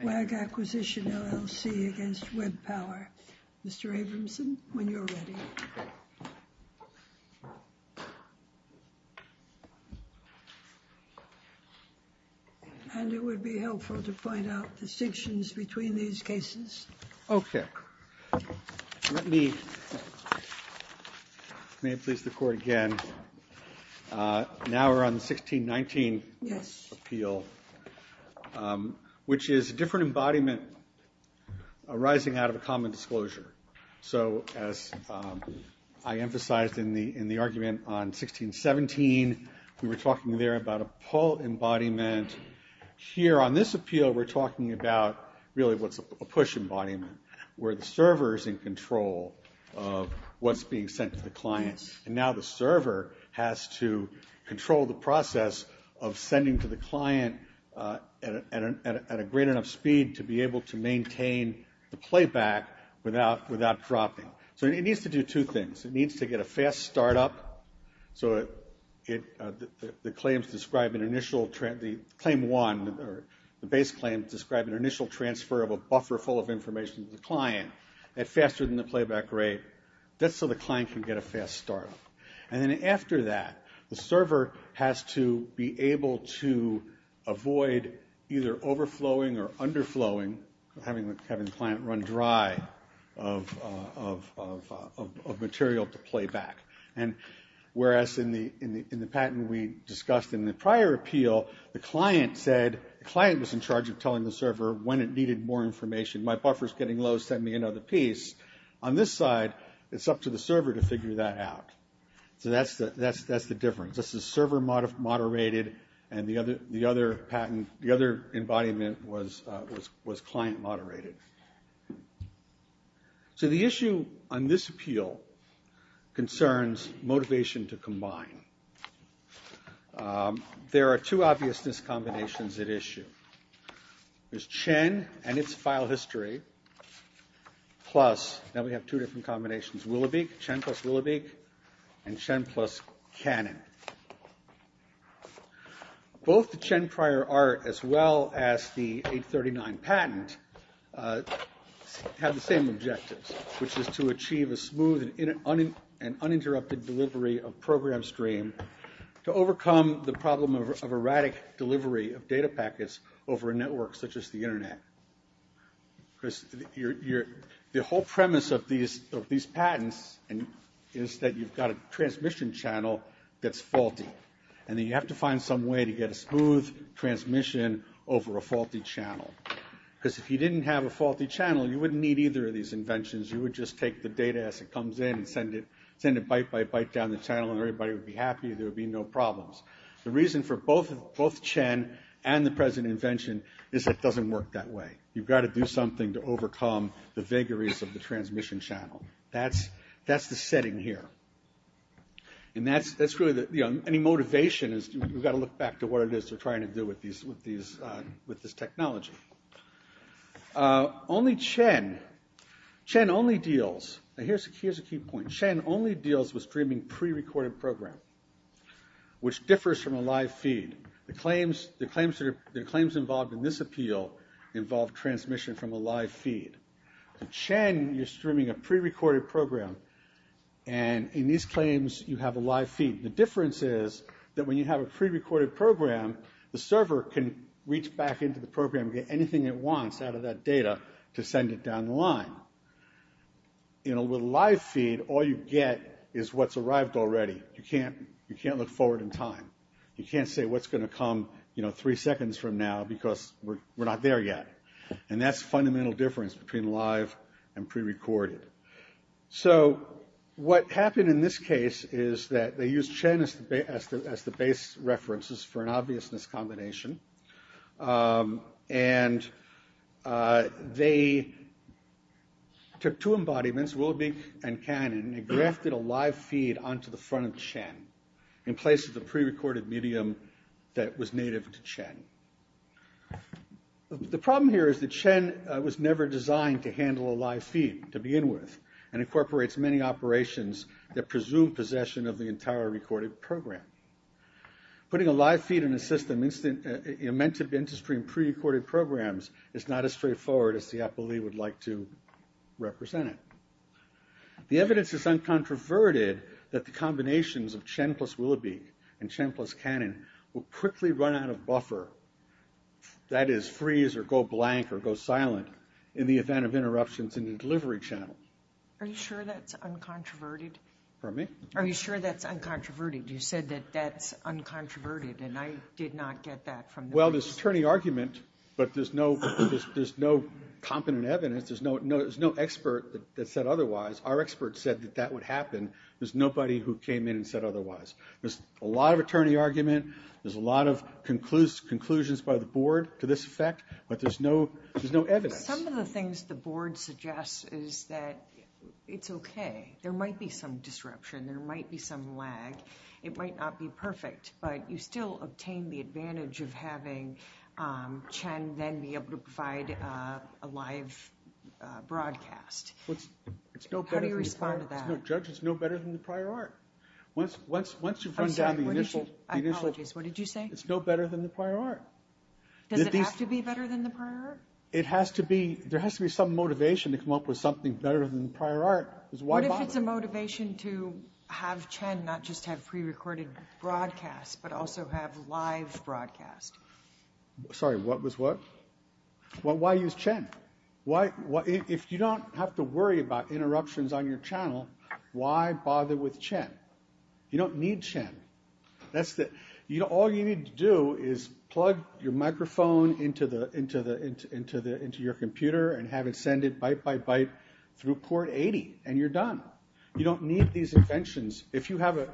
WAG Acquisition, LLC against WebPower. Mr. Abramson, when you're ready. And it would be helpful to point out distinctions between these cases. Okay, let me, may it please the court again. Now we're on 1619. Yes. Appeal, which is a different embodiment arising out of a common disclosure. So as I emphasized in the argument on 1617, we were talking there about a pull embodiment. Here on this appeal, we're talking about really what's a push embodiment, where the server's in control of what's being sent to the client. And now the server has to control the process of sending to the client at a great enough speed to be able to maintain the playback without dropping. So it needs to do two things. It needs to get a fast startup, so the claims describe an initial, claim one, the base claim describe an initial transfer of a buffer full of information to the client at faster than the playback rate. That's so the client can get a fast startup. And then after that, the server has to be able to avoid either overflowing or underflowing, having the client run dry of material to playback. And whereas in the patent we discussed in the prior appeal, the client said, the client was in charge of telling the server when it needed more information. My buffer's getting low, send me another piece. On this side, it's up to the server to figure that out. So that's the difference. This is server-moderated, and the other patent, the other embodiment was client-moderated. So the issue on this appeal concerns motivation to combine. There are two obviousness combinations at issue. There's Chen and its file history, plus, now we have two different combinations, Willowbeak, Chen plus Willowbeak, and Chen plus Canon. Both the Chen prior art as well as the 839 patent have the same objectives, which is to achieve a smooth and uninterrupted delivery of program stream to overcome the problem of erratic delivery of data packets over a network such as the internet. Because the whole premise of these patents is that you've got a transmission channel that's faulty, and that you have to find some way to get a smooth transmission over a faulty channel. Because if you didn't have a faulty channel, you wouldn't need either of these inventions, you would just take the data as it comes in and send it byte by byte down the channel and everybody would be happy, there would be no problems. The reason for both Chen and the present invention is that it doesn't work that way. You've got to do something to overcome the vagaries of the transmission channel. That's the setting here. And that's really, any motivation is, you've got to look back to what it is they're trying to do with this technology. Only Chen, Chen only deals, now here's a key point, Chen only deals with streaming pre-recorded program, which differs from a live feed. The claims involved in this appeal involve transmission from a live feed. In Chen, you're streaming a pre-recorded program, and in these claims, you have a live feed. The difference is that when you have a pre-recorded program, the server can reach back into the program and get anything it wants out of that data to send it down the line. In a live feed, all you get is what's arrived already. You can't look forward in time. You can't say what's gonna come three seconds from now because we're not there yet. And that's the fundamental difference between live and pre-recorded. So, what happened in this case is that they used Chen as the base references for an obviousness combination. And they took two embodiments, Wilbeek and Cannon, and grafted a live feed onto the front of Chen in place of the pre-recorded medium that was native to Chen. The problem here is that Chen was never designed to handle a live feed to begin with, and incorporates many operations that presume possession of the entire recorded program. Putting a live feed in a system meant to be into stream pre-recorded programs is not as straightforward as the appellee would like to represent it. The evidence is uncontroverted that the combinations of Chen plus Wilbeek and Chen plus Cannon will quickly run out of buffer, that is freeze or go blank or go silent in the event of interruptions in the delivery channel. Are you sure that's uncontroverted? Pardon me? Are you sure that's uncontroverted? You said that that's uncontroverted, and I did not get that from the... Well, there's attorney argument, but there's no competent evidence. There's no expert that said otherwise. Our expert said that that would happen. There's nobody who came in and said otherwise. There's a lot of attorney argument. There's a lot of conclusions by the board to this effect, but there's no evidence. Some of the things the board suggests is that it's okay. There might be some disruption. There might be some lag. It might not be perfect, but you still obtain the advantage of having Chen then be able to provide a live broadcast. How do you respond to that? Judge, it's no better than the prior art. Once you've run down the initial... Apologies, what did you say? It's no better than the prior art. Does it have to be better than the prior art? It has to be. There has to be some motivation to come up with something better than the prior art, because why bother? What if it's a motivation to have Chen not just have pre-recorded broadcast, but also have live broadcast? Sorry, what was what? Well, why use Chen? If you don't have to worry about interruptions on your channel, why bother with Chen? You don't need Chen. All you need to do is plug your microphone into your computer and have it send it byte by byte through port 80, and you're done. You don't need these inventions. If you have a...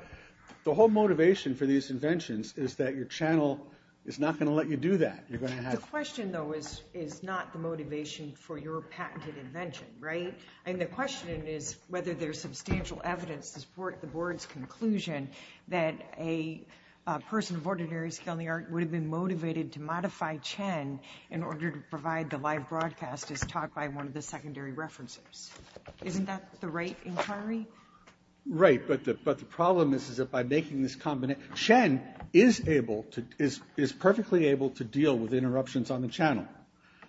The whole motivation for these inventions is that your channel is not gonna let you do that. You're gonna have... The question, though, is not the motivation for your patented invention, right? I mean, the question is whether there's substantial evidence to support the board's conclusion that a person of ordinary skill in the art would have been motivated to modify Chen in order to provide the live broadcast as taught by one of the secondary references. Isn't that the right inquiry? Right, but the problem is that by making this... Chen is perfectly able to deal with interruptions on the channel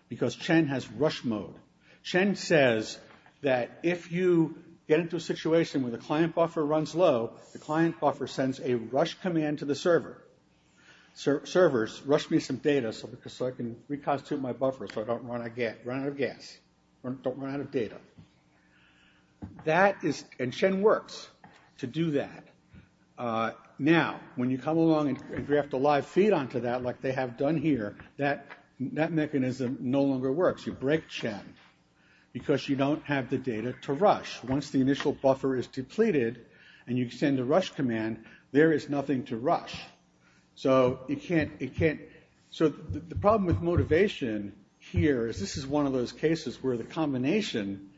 because Chen has rush mode. Chen says that if you get into a situation where the client buffer runs low, the client buffer sends a rush command to the server. Servers, rush me some data so I can reconstitute my buffer so I don't run out of gas, don't run out of data. And Chen works to do that. Now, when you come along and draft a live feed onto that like they have done here, that mechanism no longer works. You break Chen because you don't have the data to rush. Once the initial buffer is depleted and you send a rush command, there is nothing to rush. So you can't... So the problem with motivation here is this is one of those cases where the combination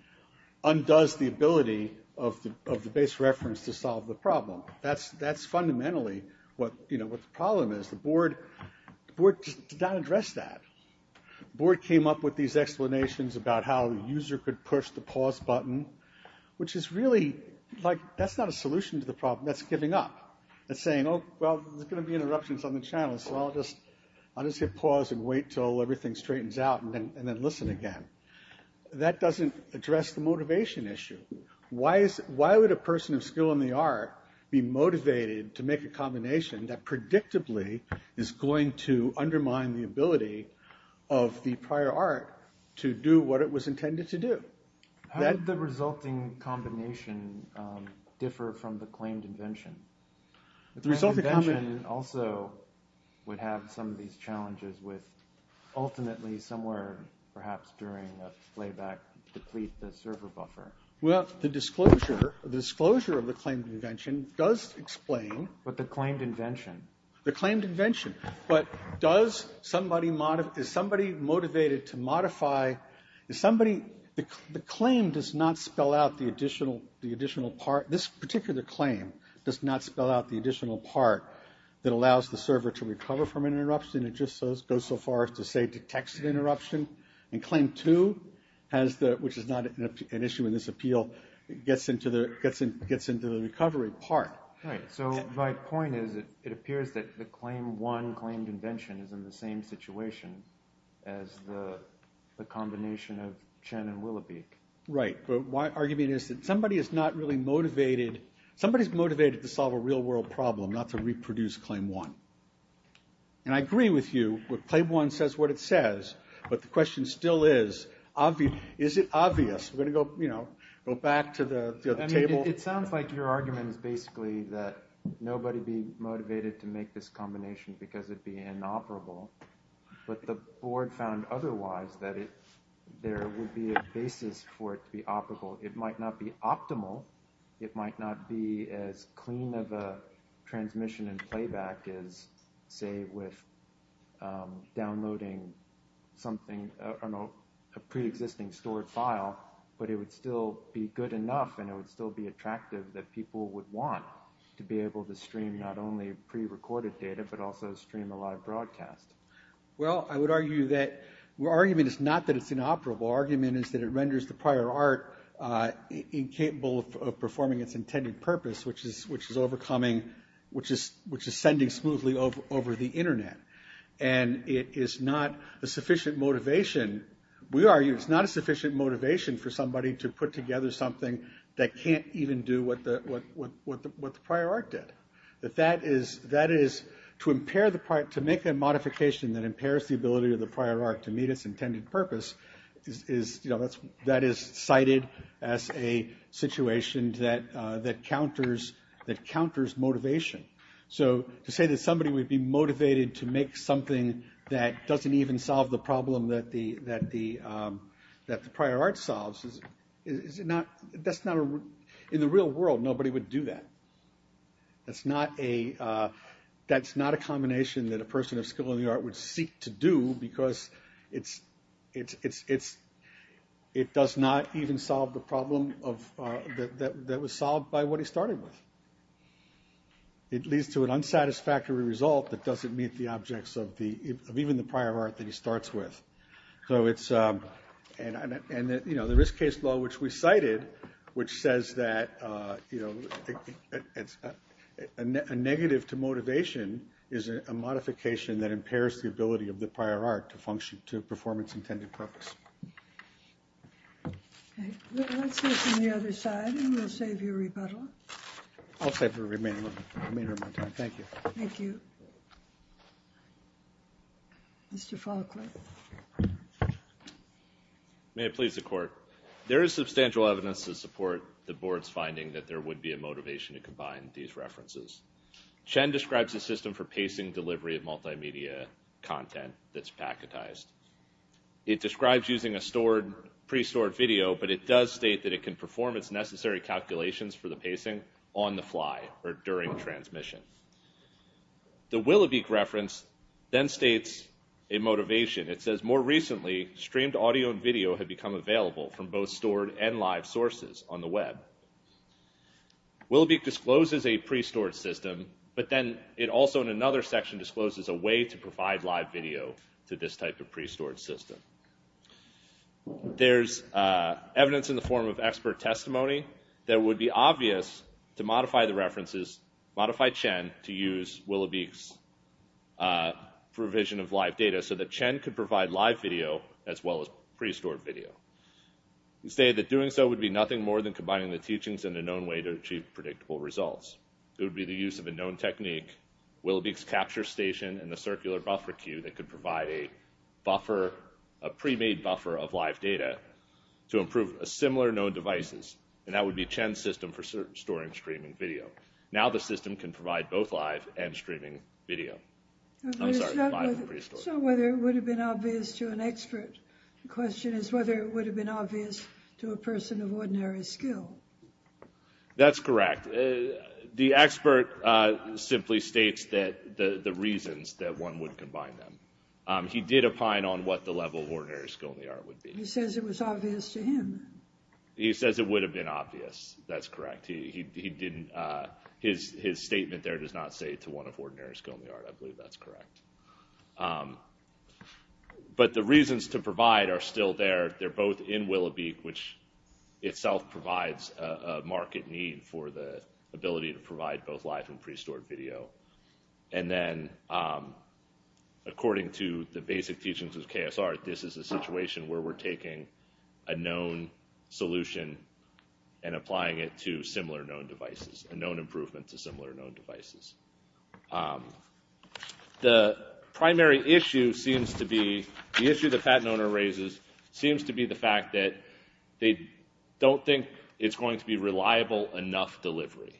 undoes the ability of the base reference to solve the problem. That's fundamentally what the problem is. The board did not address that. Board came up with these explanations about how the user could push the pause button, which is really, that's not a solution to the problem. That's giving up. That's saying, oh, well, there's gonna be interruptions on the channel, so I'll just hit pause and wait till everything straightens out and then listen again. That doesn't address the motivation issue. Why would a person of skill in the art be motivated to make a combination that predictably is going to undermine the ability of the prior art to do what it was intended to do? That... How did the resulting combination differ from the claimed invention? The resulting invention also would have some of these challenges with ultimately somewhere perhaps during a playback deplete the server buffer. Well, the disclosure of the claimed invention does explain... But the claimed invention. The claimed invention. But does somebody... Is somebody motivated to modify... Is somebody... The claim does not spell out the additional part. This particular claim does not spell out the additional part that allows the server to recover from an interruption. It just goes so far as to say detects an interruption. And claim two, which is not an issue in this appeal, gets into the recovery part. Right, so my point is it appears that the claim one claimed invention is in the same situation as the combination of Chen and Willowbeak. Right, but my argument is that somebody is not really motivated... Somebody's motivated to solve a real world problem, not to reproduce claim one. And I agree with you, claim one says what it says, but the question still is, is it obvious? We're gonna go back to the table. It sounds like your argument is basically that nobody be motivated to make this combination because it'd be inoperable. But the board found otherwise, that there would be a basis for it to be operable. It might not be optimal. It might not be as clean of a transmission and playback as say with downloading something, I don't know, a pre-existing stored file, but it would still be good enough and it would still be attractive that people would want to be able to stream not only pre-recorded data, but also stream a live broadcast. Well, I would argue that our argument is not that it's inoperable. Our argument is that it renders the prior art incapable of performing its intended purpose, which is overcoming, which is sending smoothly over the internet. And it is not a sufficient motivation. We argue it's not a sufficient motivation for somebody to put together something that can't even do what the prior art did. That is, to make a modification that impairs the ability of the prior art to meet its intended purpose, that is cited as a situation that counters motivation. So to say that somebody would be motivated to make something that doesn't even solve the problem that the prior art solves, in the real world, nobody would do that. That's not a combination that a person of skill in the art would seek to do because it does not even solve the problem that was solved by what he started with. It leads to an unsatisfactory result that doesn't meet the objects of even the prior art that he starts with. And the risk case law which we cited, which says that a negative to motivation is a modification that impairs the ability of the prior art to function, to perform its intended purpose. Okay, let's go from the other side and we'll save you a rebuttal. I'll save you a remainder of my time, thank you. Thank you. Mr. Falkner. May it please the court. There is substantial evidence to support the board's finding that there would be a motivation to combine these references. Chen describes a system for pacing delivery of multimedia content that's packetized. It describes using a stored, pre-stored video, but it does state that it can perform its necessary calculations for the pacing on the fly or during transmission. The Willowbeak reference then states a motivation. It says, more recently, streamed audio and video have become available from both stored and live sources on the web. Willowbeak discloses a pre-stored system, but then it also, in another section, discloses a way to provide live video to this type of pre-stored system. There's evidence in the form of expert testimony that it would be obvious to modify the references, modify Chen to use Willowbeak's provision of live data so that Chen could provide live video as well as pre-stored video. He stated that doing so would be nothing more than combining the teachings in a known way to achieve predictable results. It would be the use of a known technique, Willowbeak's capture station and the circular buffer queue that could provide a buffer, a pre-made buffer of live data to improve similar known devices, and that would be Chen's system for storing streaming video. Now the system can provide both live and streaming video. I'm sorry, live and pre-stored. So whether it would have been obvious to an expert, the question is whether it would have been obvious to a person of ordinary skill. That's correct. The expert simply states the reasons that one would combine them. He did opine on what the level of ordinary skill in the art would be. He says it was obvious to him. He says it would have been obvious. That's correct. He didn't, his statement there does not say to one of ordinary skill in the art. I believe that's correct. But the reasons to provide are still there. They're both in Willowbeak, which itself provides a market need for the ability to provide both live and pre-stored video. And then according to the basic teachings of KSR, this is a situation where we're taking a known solution and applying it to similar known devices, a known improvement to similar known devices. The primary issue seems to be, the issue that Fatt and Oner raises, seems to be the fact that they don't think it's going to be reliable enough delivery.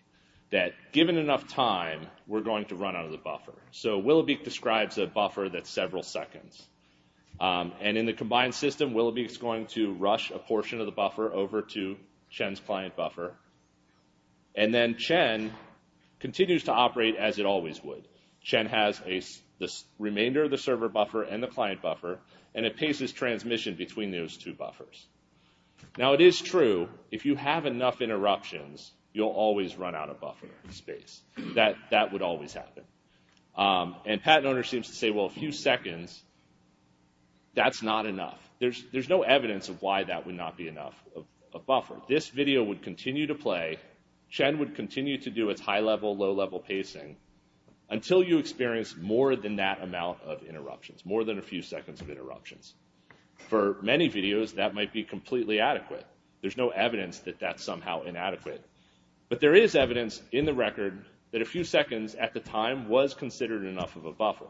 That given enough time, we're going to run out of the buffer. So Willowbeak describes a buffer that's several seconds. And in the combined system, Willowbeak's going to rush a portion of the buffer over to Chen's client buffer. And then Chen continues to operate as it always would. Chen has the remainder of the server buffer and the client buffer, and it paces transmission between those two buffers. Now it is true, if you have enough interruptions, you'll always run out of buffer space. That would always happen. And Fatt and Oner seems to say, well, a few seconds, that's not enough. There's no evidence of why that would not be enough of a buffer. This video would continue to play. Chen would continue to do its high-level, low-level pacing until you experience more than that amount of interruptions, more than a few seconds of interruptions. For many videos, that might be completely adequate. There's no evidence that that's somehow inadequate. But there is evidence in the record that a few seconds at the time was considered enough of a buffer.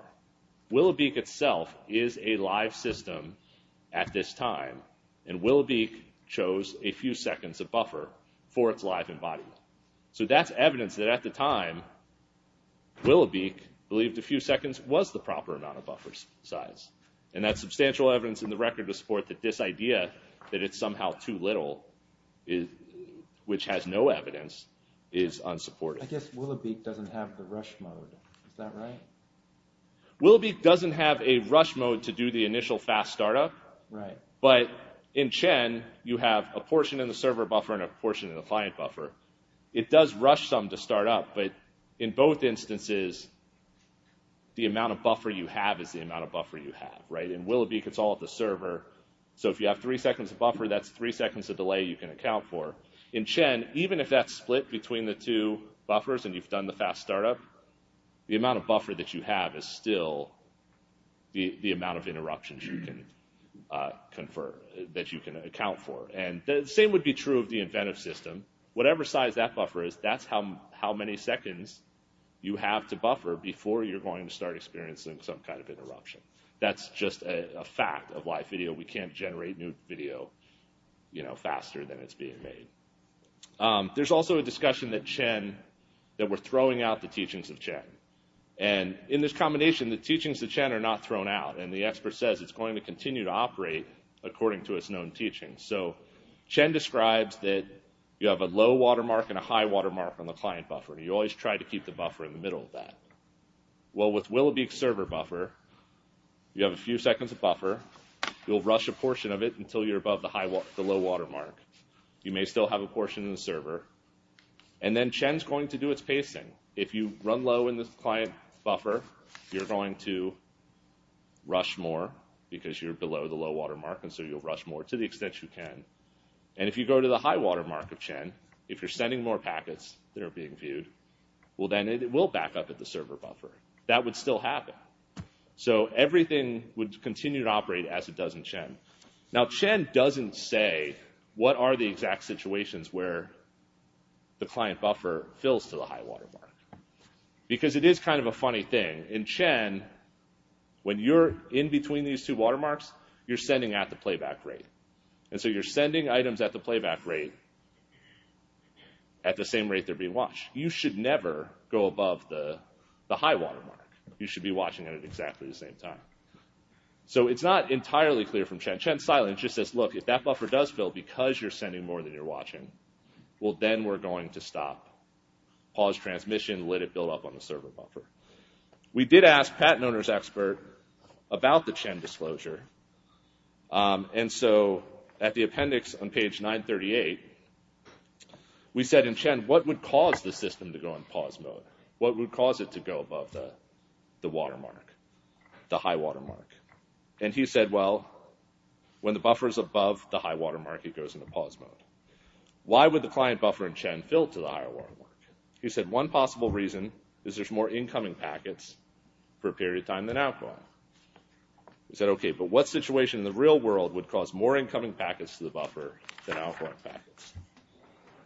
WillowBeak itself is a live system at this time, and WillowBeak chose a few seconds of buffer for its live embodiment. So that's evidence that at the time, WillowBeak believed a few seconds was the proper amount of buffer size. And that's substantial evidence in the record to support that this idea that it's somehow too little, which has no evidence, is unsupportive. I guess WillowBeak doesn't have the rush mode. Is that right? WillowBeak doesn't have a rush mode to do the initial fast startup. But in Chen, you have a portion in the server buffer and a portion in the client buffer. It does rush some to start up, but in both instances, the amount of buffer you have is the amount of buffer you have. In WillowBeak, it's all at the server. So if you have three seconds of buffer, that's three seconds of delay you can account for. In Chen, even if that's split between the two buffers and you've done the fast startup, the amount of buffer that you have is still the amount of interruptions you can confer, that you can account for. And the same would be true of the Inventive system. Whatever size that buffer is, that's how many seconds you have to buffer before you're going to start experiencing some kind of interruption. That's just a fact of why video, we can't generate new video faster than it's being made. There's also a discussion that Chen, that we're throwing out the teachings of Chen. And in this combination, the teachings of Chen are not thrown out. And the expert says it's going to continue to operate according to its known teachings. So Chen describes that you have a low watermark and a high watermark on the client buffer. You always try to keep the buffer in the middle of that. Well, with WillowBeak server buffer, you have a few seconds of buffer. You'll rush a portion of it until you're above the low watermark. You may still have a portion in the server. And then Chen's going to do its pacing. If you run low in this client buffer, you're going to rush more because you're below the low watermark. And so you'll rush more to the extent you can. And if you go to the high watermark of Chen, if you're sending more packets that are being viewed, well, then it will back up at the server buffer. That would still happen. So everything would continue to operate as it does in Chen. Now, Chen doesn't say what are the exact situations where the client buffer fills to the high watermark. Because it is kind of a funny thing. In Chen, when you're in between these two watermarks, you're sending at the playback rate. And so you're sending items at the playback rate at the same rate they're being watched. You should never go above the high watermark. You should be watching it at exactly the same time. So it's not entirely clear from Chen. Chen's silent. It just says, look, if that buffer does fill because you're sending more than you're watching, well, then we're going to stop. Pause transmission, let it build up on the server buffer. We did ask patent owner's expert about the Chen disclosure. And so at the appendix on page 938, we said in Chen, what would cause the system to go in pause mode? What would cause it to go above the watermark, the high watermark? And he said, well, when the buffer's above the high watermark, it goes into pause mode. Why would the client buffer in Chen fill to the high watermark? He said, one possible reason is there's more incoming packets per period of time than outgoing. We said, okay, but what situation in the real world would cause more incoming packets to the buffer than outgoing packets?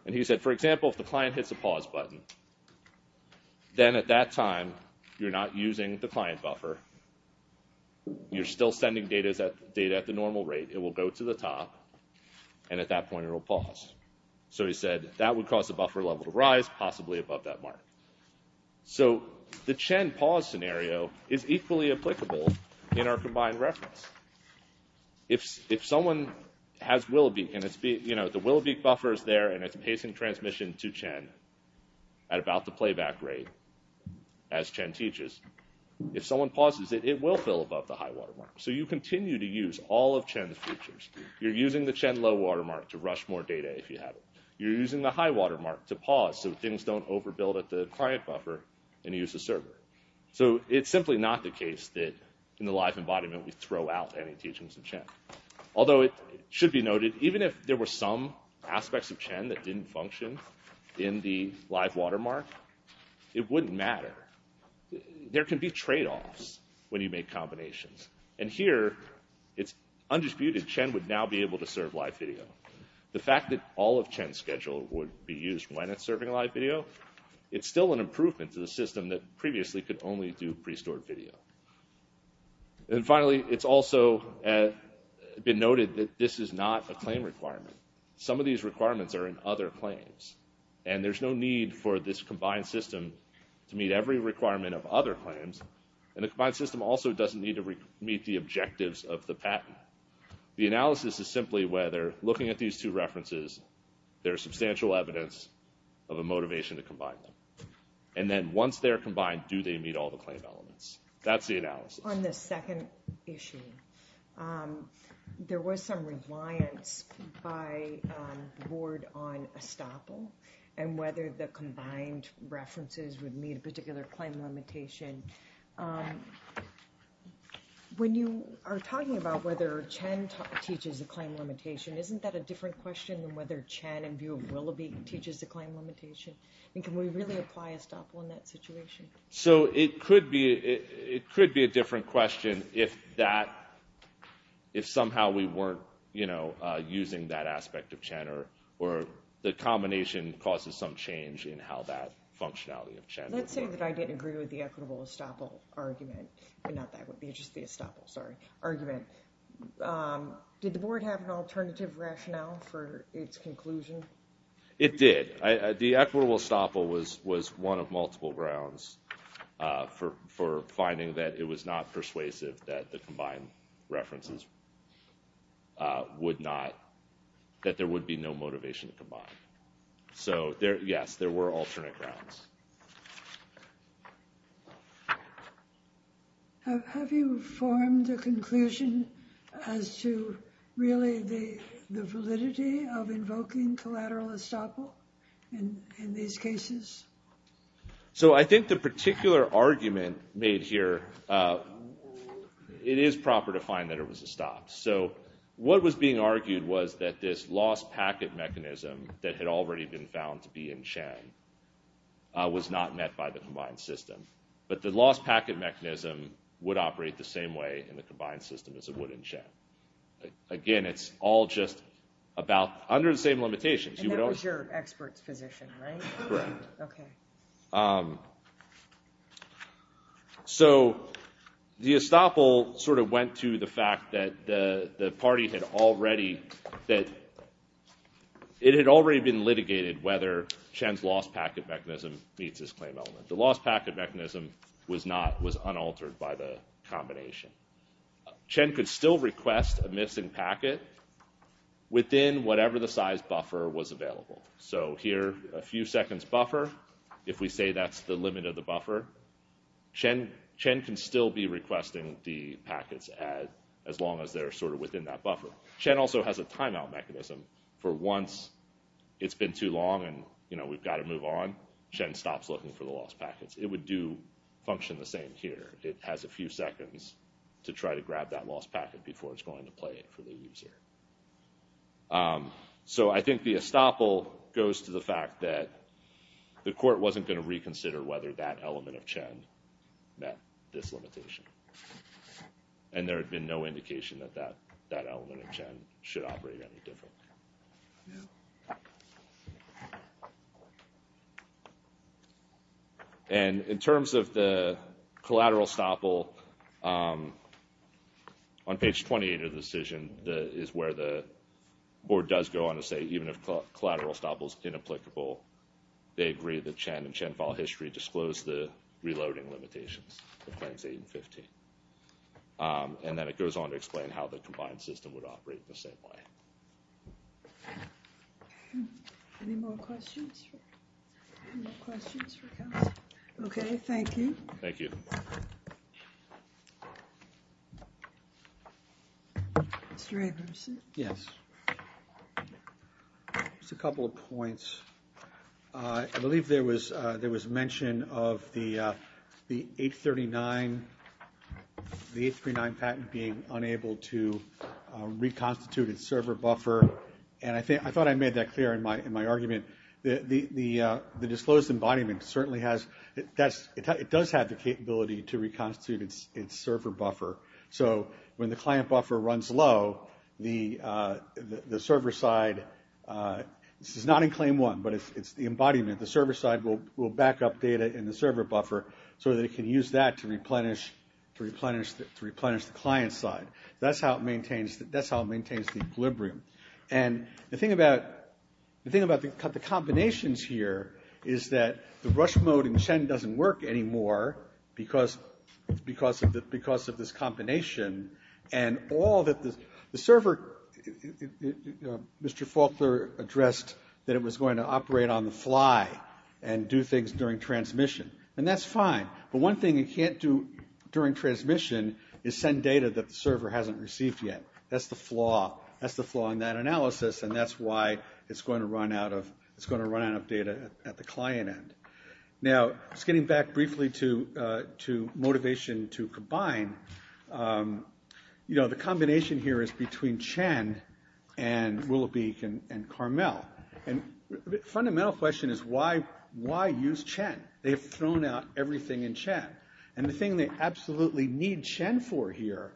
And he said, for example, if the client hits a pause button, then at that time, you're not using the client buffer. You're still sending data at the normal rate. It will go to the top, and at that point, it will pause. So he said, that would cause the buffer level to rise, possibly above that mark. So the Chen pause scenario is equally applicable in our combined reference. If someone has Willowbeak, and the Willowbeak buffer's there and it's pacing transmission to Chen, at about the playback rate, as Chen teaches, if someone pauses it, it will fill above the high watermark. So you continue to use all of Chen's features. You're using the Chen low watermark to rush more data if you have it. You're using the high watermark to pause so things don't overbuild at the client buffer and use a server. So it's simply not the case that in the live embodiment, we throw out any teachings of Chen. Although it should be noted, even if there were some high watermark, it wouldn't matter. There can be trade-offs when you make combinations. And here, it's undisputed Chen would now be able to serve live video. The fact that all of Chen's schedule would be used when it's serving live video, it's still an improvement to the system that previously could only do pre-stored video. And finally, it's also been noted that this is not a claim requirement. Some of these requirements are in other claims. And there's no need for this combined system to meet every requirement of other claims. And the combined system also doesn't need to meet the objectives of the patent. The analysis is simply whether, looking at these two references, there is substantial evidence of a motivation to combine them. And then once they're combined, do they meet all the claim elements? That's the analysis. On the second issue, there was some reliance by the board on estoppel, and whether the combined references would meet a particular claim limitation. When you are talking about whether Chen teaches a claim limitation, isn't that a different question than whether Chen, in view of Willoughby, teaches a claim limitation? And can we really apply estoppel in that situation? So it could be a different question if that, if somehow we weren't using that aspect of Chen, or the combination causes some change in how that functionality of Chen. Let's say that I didn't agree with the equitable estoppel argument, not that one, just the estoppel, sorry, argument, did the board have an alternative rationale for its conclusion? It did, the equitable estoppel was one of multiple grounds for finding that it was not persuasive that the combined references would not, that there would be no motivation to combine. So yes, there were alternate grounds. Have you formed a conclusion as to really the validity of invoking collateral estoppel in these cases? So I think the particular argument made here, it is proper to find that it was estopped. So what was being argued was that this lost packet mechanism that had already been found to be in Chen was not met by the combined system, but the lost packet mechanism would operate the same way in the combined system as it would in Chen. Again, it's all just about, under the same limitations. You would also. And that was your expert's position, right? Correct. Okay. So, so the estoppel sort of went to the fact that the party had already, that it had already been litigated whether Chen's lost packet mechanism meets his claim element. The lost packet mechanism was not, was unaltered by the combination. Chen could still request a missing packet within whatever the size buffer was available. So here, a few seconds buffer. If we say that's the limit of the buffer, Chen can still be requesting the packets as long as they're sort of within that buffer. Chen also has a timeout mechanism. For once, it's been too long and we've got to move on, Chen stops looking for the lost packets. It would do, function the same here. It has a few seconds to try to grab that lost packet before it's going to play for the user. So I think the estoppel goes to the fact that the court wasn't going to reconsider whether that element of Chen met this limitation. And there had been no indication that that element of Chen should operate any different. And in terms of the collateral estoppel, on page 28 of the decision is where the board does go on to say even if collateral estoppel is inapplicable, they agree that Chen and Chen file history disclose the reloading limitations, the claims eight and 15. And then it goes on to explain how the combined system would operate in the same way. Any more questions? Okay, thank you. Thank you. Mr. Anderson? Yes. Just a couple of points. I believe there was mention of the 839, the 839 patent being unable to reconstitute its server buffer. And I thought I made that clear in my argument. The disclosed embodiment certainly has, it does have the capability to reconstitute its server buffer. So when the client buffer runs low, the server side, this is not in claim one, but it's the embodiment. The server side will backup data in the server buffer so that it can use that to replenish the client side. That's how it maintains the equilibrium. And the thing about the combinations here is that the rush mode in Chen doesn't work anymore because of this combination. And all that the server, Mr. Faulkner addressed that it was going to operate on the fly and do things during transmission. And that's fine. But one thing it can't do during transmission is send data that the server hasn't received yet. That's the flaw. That's the flaw in that analysis. And that's why it's going to run out of data at the client end. Now, just getting back briefly to motivation to combine. The combination here is between Chen and Willowbeak and Carmel. And the fundamental question is why use Chen? They've thrown out everything in Chen. And the thing they absolutely need Chen for here,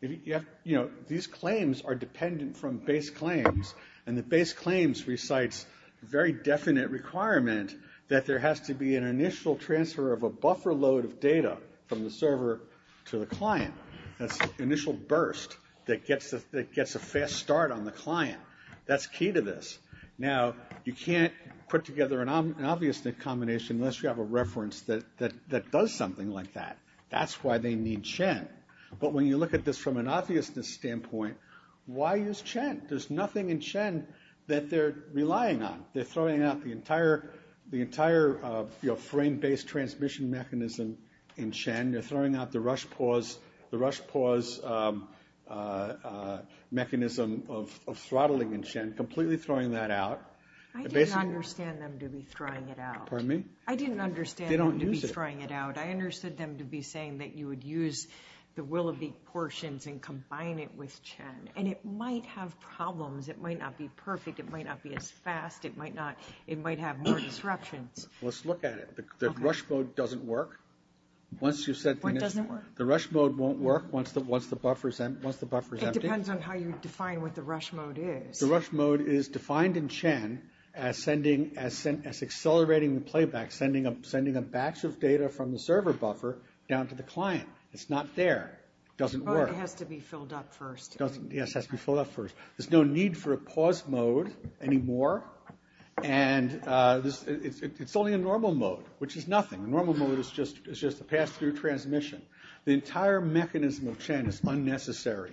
these claims are dependent from base claims. And the base claims recites a very definite requirement that there has to be an initial transfer of a buffer load of data from the server to the client. That's initial burst that gets a fast start on the client. That's key to this. Now, you can't put together an obvious combination unless you have a reference that does something like that. That's why they need Chen. But when you look at this from an obviousness standpoint, why use Chen? There's nothing in Chen that they're relying on. They're throwing out the entire frame-based transmission mechanism in Chen. They're throwing out the rush pause, the rush pause mechanism of throttling in Chen, completely throwing that out. The basic- I didn't understand them to be throwing it out. Pardon me? I didn't understand them to be throwing it out. I understood them to be saying that you would use the Willowbeak portions and combine it with Chen. And it might have problems. It might not be perfect. It might not be as fast. It might have more disruptions. Let's look at it. The rush mode doesn't work. Once you set the- What doesn't work? The rush mode won't work once the buffer's empty. It depends on how you define what the rush mode is. The rush mode is defined in Chen as accelerating the playback, sending a batch of data from the server buffer down to the client. It's not there. It doesn't work. Oh, it has to be filled up first. Yes, it has to be filled up first. There's no need for a pause mode anymore. And it's only a normal mode, which is nothing. A normal mode is just a pass-through transmission. The entire mechanism of Chen is unnecessary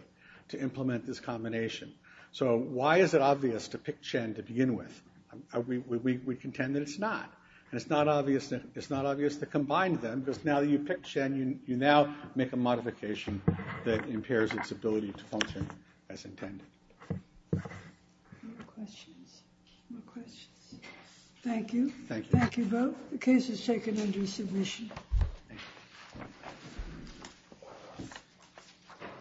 to implement this combination. So why is it obvious to pick Chen to begin with? We contend that it's not. And it's not obvious to combine them because now that you've picked Chen, you now make a modification that impairs its ability to function as intended. More questions? More questions? Thank you. Thank you both. The case is taken under submission.